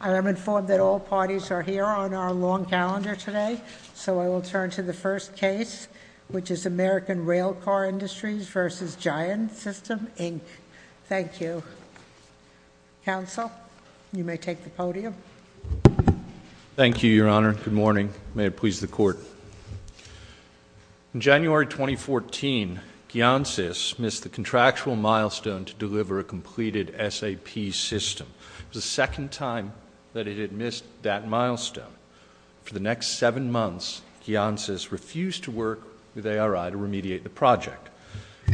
I am informed that all parties are here on our long calendar today, so I will turn to the first case, which is American Railcar Industries v. Giant System, Inc. Thank you. Counsel, you may take the podium. Thank you, Your Honor. Good morning. May it please the Court. In January 2014, Giantsys missed the contractual milestone to deliver a completed SAP system. It was the second time that it had missed that milestone. For the next seven months, Giantsys refused to work with ARI to remediate the project.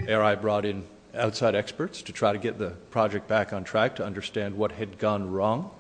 ARI brought in outside experts to try to get the project back on track to understand what had gone wrong.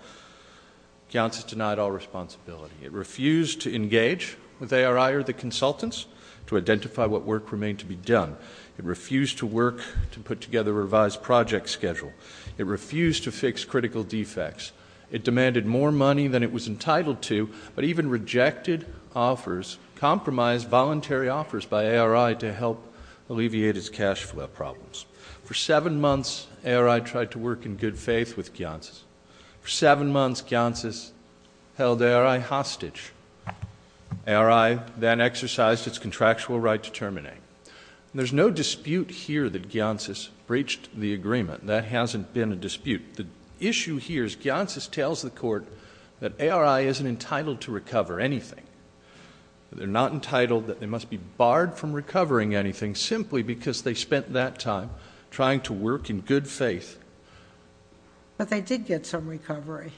Giantsys denied all responsibility. It refused to engage with ARI or the consultants to identify what work remained to be done. It refused to work to put together a revised project schedule. It refused to fix critical defects. It demanded more money than it was entitled to, but even rejected offers, compromised voluntary offers by ARI to help alleviate its cash flow problems. For seven months, ARI tried to work in good faith with Giantsys. For seven months, Giantsys held ARI hostage. ARI then exercised its contractual right to terminate. There's no dispute here that Giantsys breached the agreement. That hasn't been a dispute. The issue here is Giantsys tells the Court that ARI isn't entitled to recover anything. They're not entitled, that they must be barred from recovering anything simply because they spent that time trying to work in good faith. But they did get some recovery.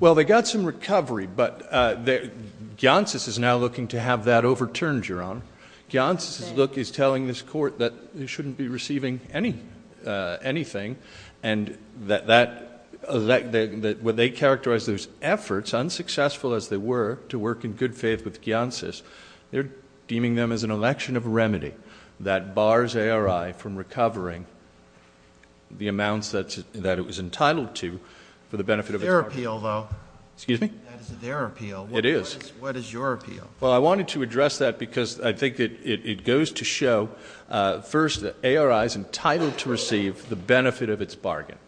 Well, they got some recovery, but Giantsys is now looking to have that overturned, Your Honor. Giantsys is telling this Court that they shouldn't be receiving anything, and when they characterize those efforts, unsuccessful as they were, to work in good faith with Giantsys, they're deeming them as an election of remedy that bars ARI from recovering the amounts that it was entitled to for the benefit of its bargain. That's their appeal, though. Excuse me? That is their appeal. It is. What is your appeal? Well, I wanted to address that because I think it goes to show, first, that ARI is entitled to receive the benefit of its bargain.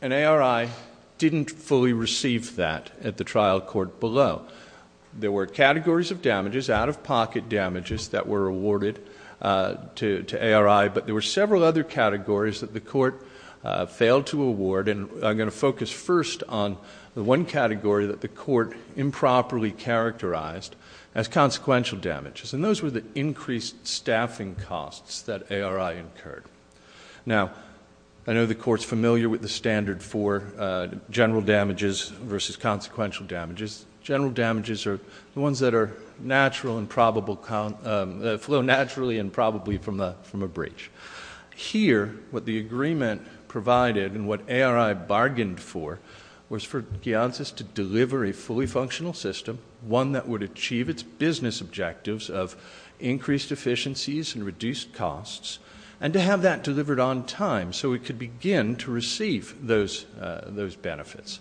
And ARI didn't fully receive that at the trial court below. There were categories of damages, out-of-pocket damages that were awarded to ARI, but there were several other categories that the Court failed to award, and I'm going to focus first on the one category that the Court improperly characterized as consequential damages, and those were the increased staffing costs that ARI incurred. Now, I know the Court's familiar with the standard for general damages versus consequential damages. General damages are the ones that flow naturally and probably from a breach. Here, what the agreement provided and what ARI bargained for was for Giantsys to deliver a fully functional system, one that would achieve its business objectives of increased efficiencies and reduced costs, and to have that delivered on time so it could begin to receive those benefits.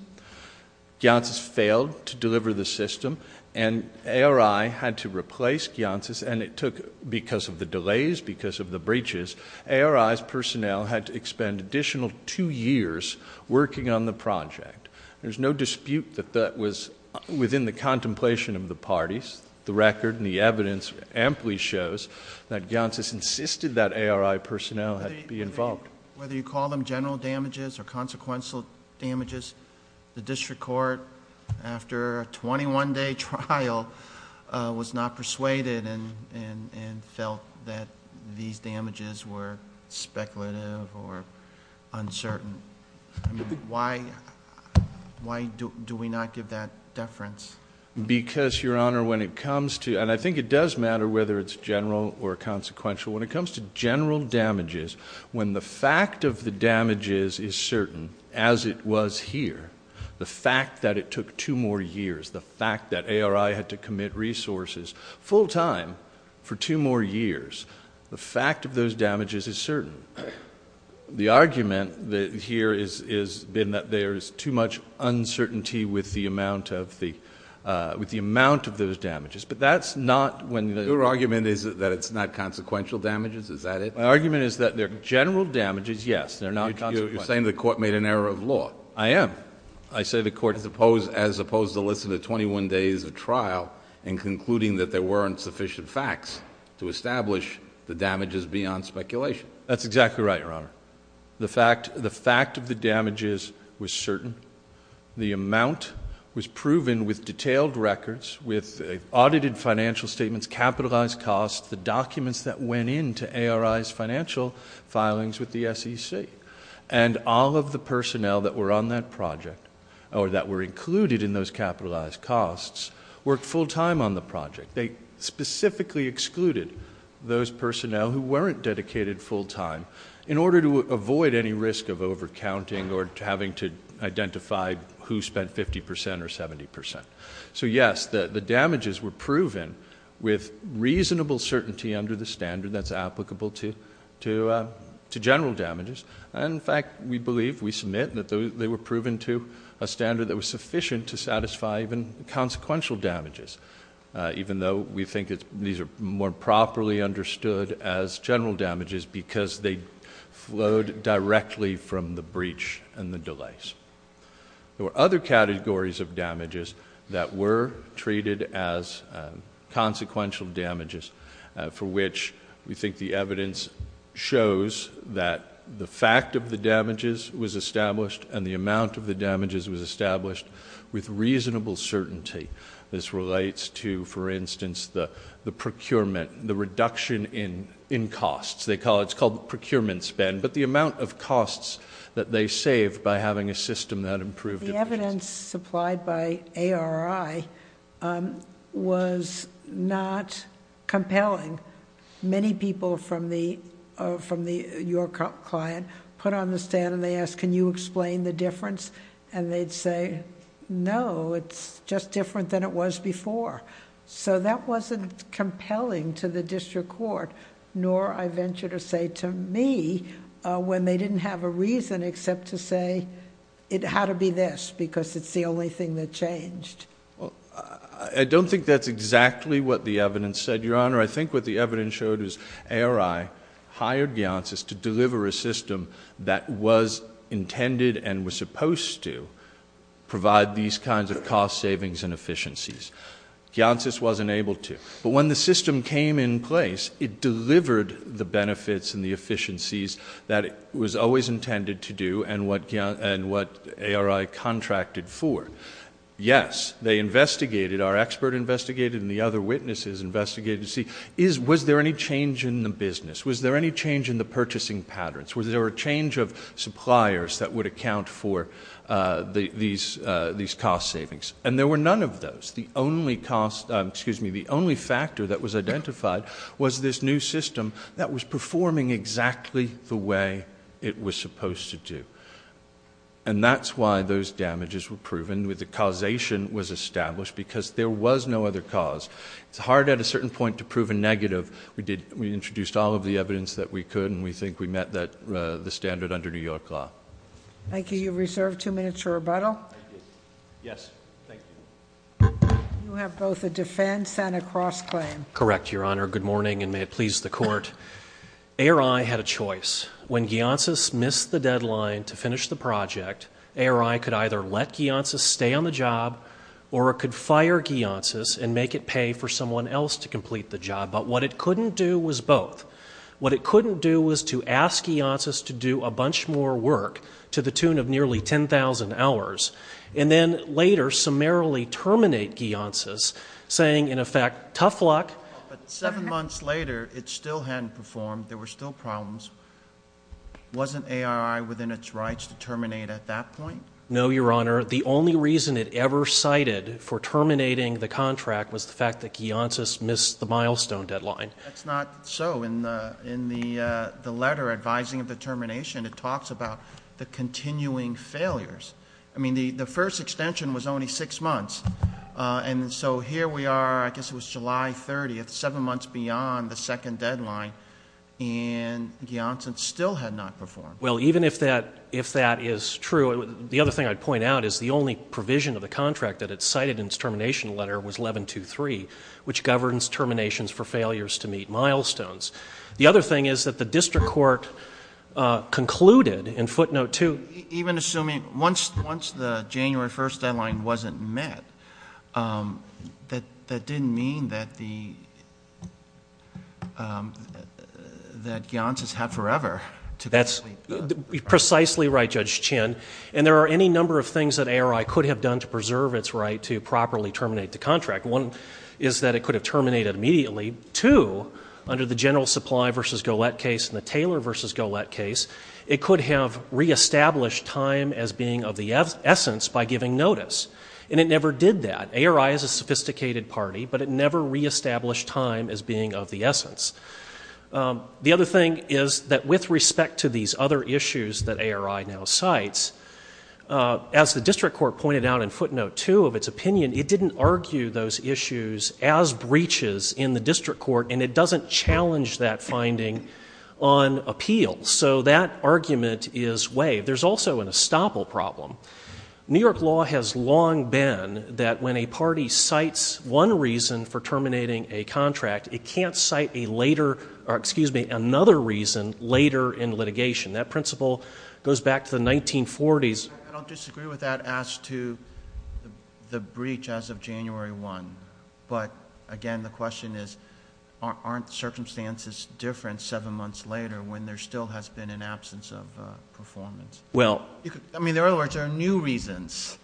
Giantsys failed to deliver the system, and ARI had to replace Giantsys, and it took, because of the delays, because of the breaches, ARI's personnel had to expend additional two years working on the project. There's no dispute that that was within the contemplation of the parties. The record and the evidence amply shows that Giantsys insisted that ARI personnel be involved. Whether you call them general damages or consequential damages, the district court, after a 21-day trial, was not persuaded and felt that these damages were speculative or uncertain. Why do we not give that deference? Because, Your Honor, when it comes to, and I think it does matter whether it's general or consequential, when it comes to general damages, when the fact of the damages is certain, as it was here, the fact that it took two more years, the fact that ARI had to commit resources full-time for two more years, the fact of those damages is certain. The argument here has been that there is too much uncertainty with the amount of those damages, but that's not when the- The argument is that it's not consequential damages, is that it? My argument is that they're general damages, yes, they're not consequential. You're saying the court made an error of law. I am. I say the court is opposed, as opposed to listening to 21 days of trial and concluding that there weren't sufficient facts to establish the damages beyond speculation. That's exactly right, Your Honor. The fact of the damages was certain. The amount was proven with detailed records, with audited financial statements, capitalized costs, the documents that went into ARI's financial filings with the SEC. And all of the personnel that were on that project, or that were included in those capitalized costs, worked full-time on the project. They specifically excluded those personnel who weren't dedicated full-time, in order to avoid any risk of over-counting or having to identify who spent 50% or 70%. So, yes, the damages were proven with reasonable certainty under the standard that's applicable to general damages. In fact, we believe, we submit, that they were proven to a standard that was sufficient to satisfy even consequential damages, even though we think these are more properly understood as general damages, because they flowed directly from the breach and the delays. There were other categories of damages that were treated as consequential damages, for which we think the evidence shows that the fact of the damages was established, and the amount of the damages was established with reasonable certainty. This relates to, for instance, the procurement, the reduction in costs. It's called the procurement spend. But the amount of costs that they saved by having a system that improved- The evidence supplied by ARI was not compelling. Many people from your client put on the stand and they asked, can you explain the difference? And they'd say, no, it's just different than it was before. So that wasn't compelling to the district court, nor I venture to say to me, when they didn't have a reason except to say, it had to be this, because it's the only thing that changed. I don't think that's exactly what the evidence said, Your Honor. I think what the evidence showed is ARI hired Giancis to deliver a system that was intended and was supposed to provide these kinds of cost savings and efficiencies. Giancis wasn't able to. But when the system came in place, it delivered the benefits and the efficiencies that it was always intended to do and what ARI contracted for. Yes, they investigated, our expert investigated, and the other witnesses investigated to see, was there any change in the business? Was there any change in the purchasing patterns? Was there a change of suppliers that would account for these cost savings? And there were none of those. The only factor that was identified was this new system that was performing exactly the way it was supposed to do. And that's why those damages were proven. The causation was established, because there was no other cause. It's hard at a certain point to prove a negative. We introduced all of the evidence that we could, and we think we met the standard under New York law. Thank you. You have reserved two minutes for rebuttal. Thank you. Yes. Thank you. You have both a defense and a cross-claim. Correct, Your Honor. Good morning, and may it please the Court. ARI had a choice. When Giancis missed the deadline to finish the project, ARI could either let Giancis stay on the job or it could fire Giancis and make it pay for someone else to complete the job. But what it couldn't do was both. What it couldn't do was to ask Giancis to do a bunch more work to the tune of nearly 10,000 hours, and then later summarily terminate Giancis, saying, in effect, tough luck. But seven months later, it still hadn't performed. There were still problems. Wasn't ARI within its rights to terminate at that point? No, Your Honor. The only reason it ever cited for terminating the contract was the fact that Giancis missed the milestone deadline. That's not so. In the letter advising of the termination, it talks about the continuing failures. I mean, the first extension was only six months. And so here we are, I guess it was July 30th, seven months beyond the second deadline, and Giancis still had not performed. Well, even if that is true, the other thing I'd point out is the only provision of the contract that it cited in its termination letter was 11.2.3, which governs terminations for failures to meet milestones. The other thing is that the district court concluded in footnote 2. Even assuming once the January 1st deadline wasn't met, that didn't mean that Giancis had forever to complete the contract. That's precisely right, Judge Chin. And there are any number of things that ARI could have done to preserve its right to properly terminate the contract. One is that it could have terminated immediately. Two, under the General Supply v. Golett case and the Taylor v. Golett case, it could have reestablished time as being of the essence by giving notice. And it never did that. ARI is a sophisticated party, but it never reestablished time as being of the essence. The other thing is that with respect to these other issues that ARI now cites, as the district court pointed out in footnote 2 of its opinion, it didn't argue those issues as breaches in the district court, and it doesn't challenge that finding on appeal. So that argument is waived. There's also an estoppel problem. New York law has long been that when a party cites one reason for terminating a contract, it can't cite another reason later in litigation. That principle goes back to the 1940s. I don't disagree with that as to the breach as of January 1. But, again, the question is, aren't circumstances different seven months later when there still has been an absence of performance? I mean, in other words, there are new reasons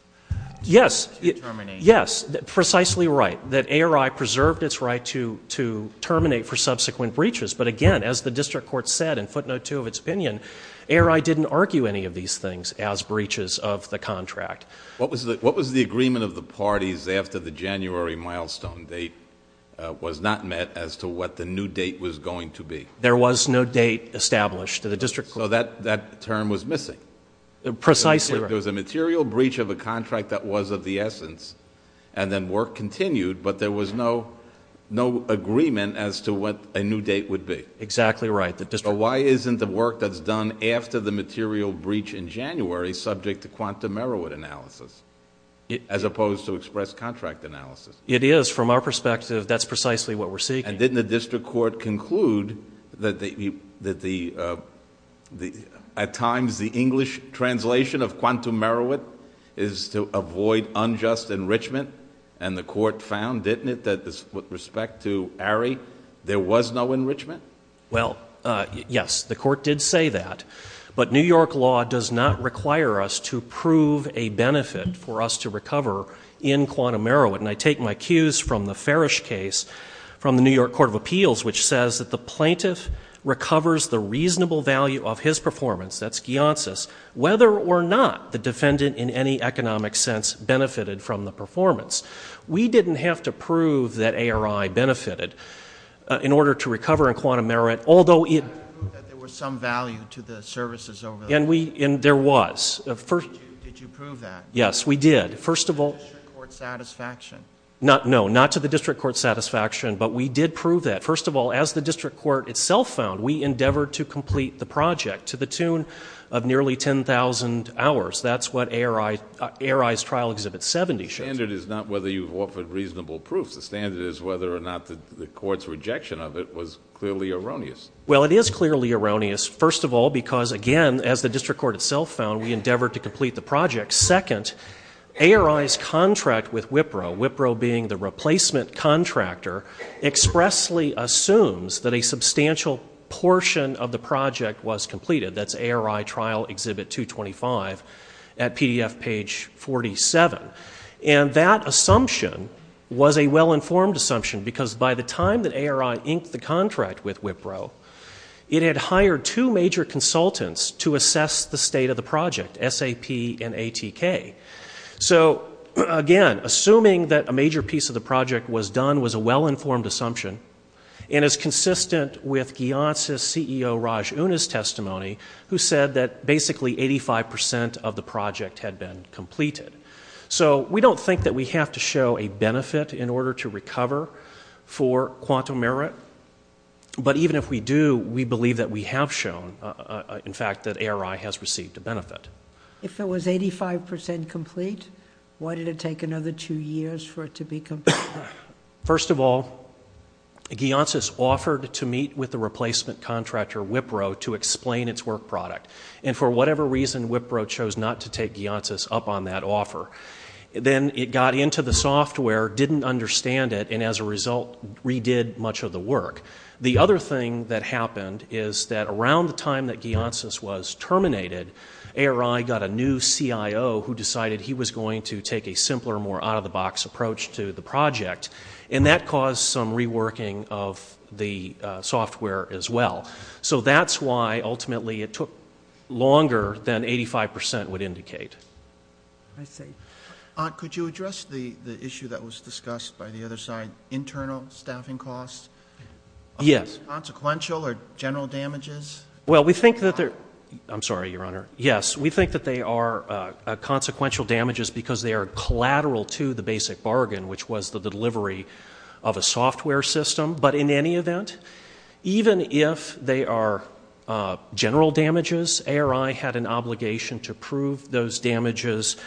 to terminate. Yes, precisely right, that ARI preserved its right to terminate for subsequent breaches. But, again, as the district court said in footnote 2 of its opinion, ARI didn't argue any of these things as breaches of the contract. What was the agreement of the parties after the January milestone date was not met as to what the new date was going to be? There was no date established. So that term was missing. Precisely right. There was a material breach of a contract that was of the essence, and then work continued, but there was no agreement as to what a new date would be. Exactly right. So why isn't the work that's done after the material breach in January subject to quantum error analysis as opposed to express contract analysis? It is. From our perspective, that's precisely what we're seeking. And didn't the district court conclude that at times the English translation of quantum Merowit is to avoid unjust enrichment? And the court found, didn't it, that with respect to ARI, there was no enrichment? Well, yes, the court did say that. But New York law does not require us to prove a benefit for us to recover in quantum Merowit. And I take my cues from the Farish case from the New York Court of Appeals, which says that the plaintiff recovers the reasonable value of his performance, that's Gionsis, whether or not the defendant in any economic sense benefited from the performance. We didn't have to prove that ARI benefited in order to recover in quantum Merowit, although it — You didn't have to prove that there was some value to the services over there. And there was. Did you prove that? Yes, we did. First of all — To the district court's satisfaction. No, not to the district court's satisfaction, but we did prove that. First of all, as the district court itself found, we endeavored to complete the project to the tune of nearly 10,000 hours. That's what ARI's trial Exhibit 70 shows. The standard is not whether you've offered reasonable proof. The standard is whether or not the court's rejection of it was clearly erroneous. Well, it is clearly erroneous, first of all, because, again, as the district court itself found, we endeavored to complete the project. Second, ARI's contract with Wipro, Wipro being the replacement contractor, expressly assumes that a substantial portion of the project was completed. That's ARI Trial Exhibit 225 at PDF page 47. And that assumption was a well-informed assumption because by the time that ARI inked the contract with Wipro, it had hired two major consultants to assess the state of the project, SAP and ATK. So, again, assuming that a major piece of the project was done was a well-informed assumption and is consistent with Gianz's CEO, Raj Unas' testimony, who said that basically 85 percent of the project had been completed. So we don't think that we have to show a benefit in order to recover for quantum merit. But even if we do, we believe that we have shown, in fact, that ARI has received a benefit. If it was 85 percent complete, why did it take another two years for it to be completed? First of all, Gianz's offered to meet with the replacement contractor, Wipro, to explain its work product. And for whatever reason, Wipro chose not to take Gianz's up on that offer. Then it got into the software, didn't understand it, and as a result redid much of the work. The other thing that happened is that around the time that Gianz's was terminated, ARI got a new CIO who decided he was going to take a simpler, more out-of-the-box approach to the project. And that caused some reworking of the software as well. So that's why ultimately it took longer than 85 percent would indicate. I see. Could you address the issue that was discussed by the other side, internal staffing costs? Yes. Are these consequential or general damages? Well, we think that they're – I'm sorry, Your Honor. Yes, we think that they are consequential damages because they are collateral to the basic bargain, which was the delivery of a software system. But in any event, even if they are general damages, ARI had an obligation to prove those damages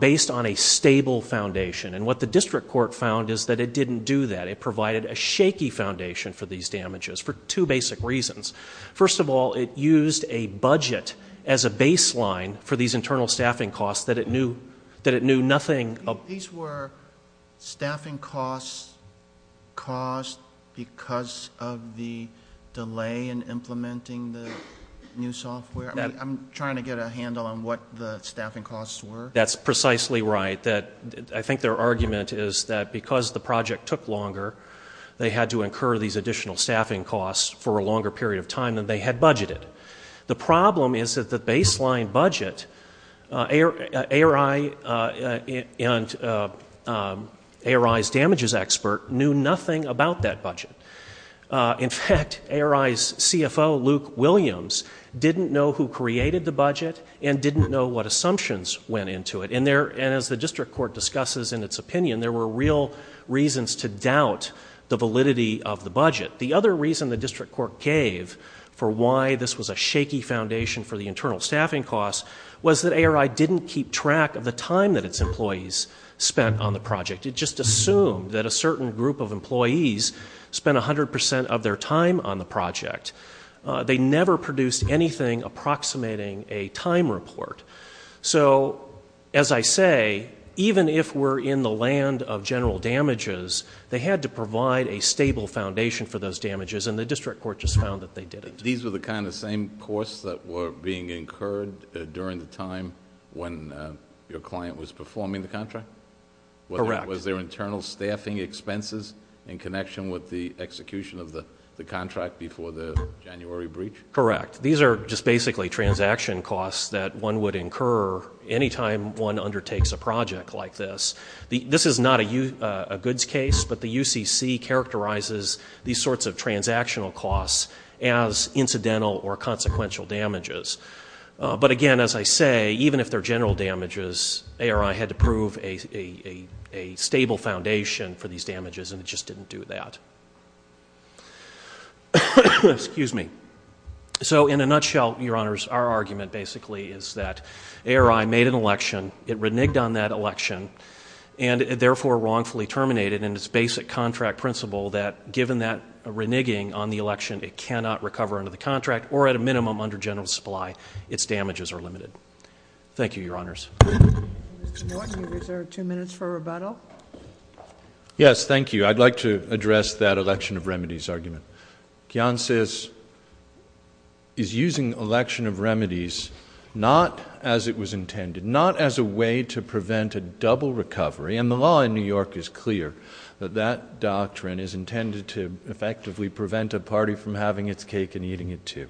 based on a stable foundation. And what the district court found is that it didn't do that. It provided a shaky foundation for these damages for two basic reasons. First of all, it used a budget as a baseline for these internal staffing costs that it knew nothing of. So these were staffing costs caused because of the delay in implementing the new software? I'm trying to get a handle on what the staffing costs were. That's precisely right. I think their argument is that because the project took longer, they had to incur these additional staffing costs for a longer period of time than they had budgeted. The problem is that the baseline budget, ARI's damages expert knew nothing about that budget. In fact, ARI's CFO, Luke Williams, didn't know who created the budget and didn't know what assumptions went into it. And as the district court discusses in its opinion, there were real reasons to doubt the validity of the budget. The other reason the district court gave for why this was a shaky foundation for the internal staffing costs was that ARI didn't keep track of the time that its employees spent on the project. It just assumed that a certain group of employees spent 100% of their time on the project. They never produced anything approximating a time report. So as I say, even if we're in the land of general damages, they had to provide a stable foundation for those damages, and the district court just found that they didn't. These were the kind of same costs that were being incurred during the time when your client was performing the contract? Correct. Was there internal staffing expenses in connection with the execution of the contract before the January breach? Correct. These are just basically transaction costs that one would incur any time one undertakes a project like this. This is not a goods case, but the UCC characterizes these sorts of transactional costs as incidental or consequential damages. But again, as I say, even if they're general damages, ARI had to prove a stable foundation for these damages, and it just didn't do that. Excuse me. So in a nutshell, Your Honors, our argument basically is that ARI made an election. It reneged on that election and therefore wrongfully terminated in its basic contract principle that given that reneging on the election, it cannot recover under the contract or at a minimum under general supply. Its damages are limited. Thank you, Your Honors. Mr. Norton, you reserve two minutes for rebuttal. Yes, thank you. I'd like to address that election of remedies argument. Kionsis is using election of remedies not as it was intended, not as a way to prevent a double recovery, and the law in New York is clear that that doctrine is intended to effectively prevent a party from having its cake and eating it too.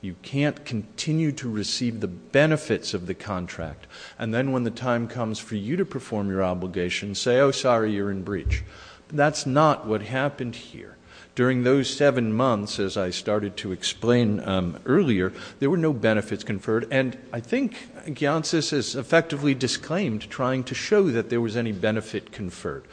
You can't continue to receive the benefits of the contract, and then when the time comes for you to perform your obligation, say, oh, sorry, you're in breach. That's not what happened here. During those seven months, as I started to explain earlier, there were no benefits conferred, and I think Kionsis has effectively disclaimed trying to show that there was any benefit conferred.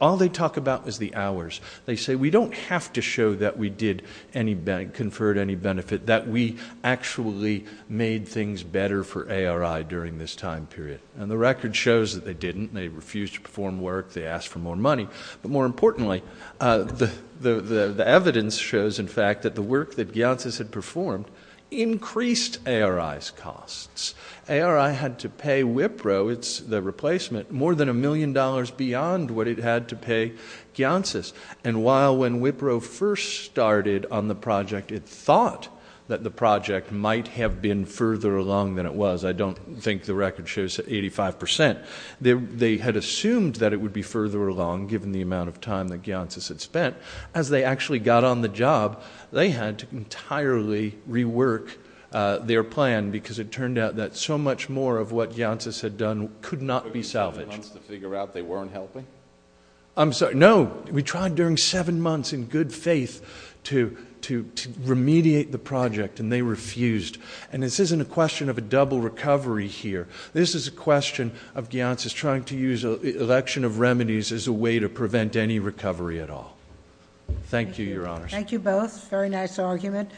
All they talk about is the hours. They say we don't have to show that we conferred any benefit, that we actually made things better for ARI during this time period, and the record shows that they didn't. They refused to perform work. They asked for more money. But more importantly, the evidence shows, in fact, that the work that Kionsis had performed increased ARI's costs. ARI had to pay Wipro, the replacement, more than a million dollars beyond what it had to pay Kionsis, and while when Wipro first started on the project, it thought that the project might have been further along than it was. I don't think the record shows 85%. They had assumed that it would be further along, given the amount of time that Kionsis had spent. As they actually got on the job, they had to entirely rework their plan, because it turned out that so much more of what Kionsis had done could not be salvaged. It took them seven months to figure out they weren't helping? I'm sorry, no. We tried during seven months in good faith to remediate the project, and they refused, and this isn't a question of a double recovery here. This is a question of Kionsis trying to use an election of remedies as a way to prevent any recovery at all. Thank you, Your Honors. Thank you both. Very nice argument.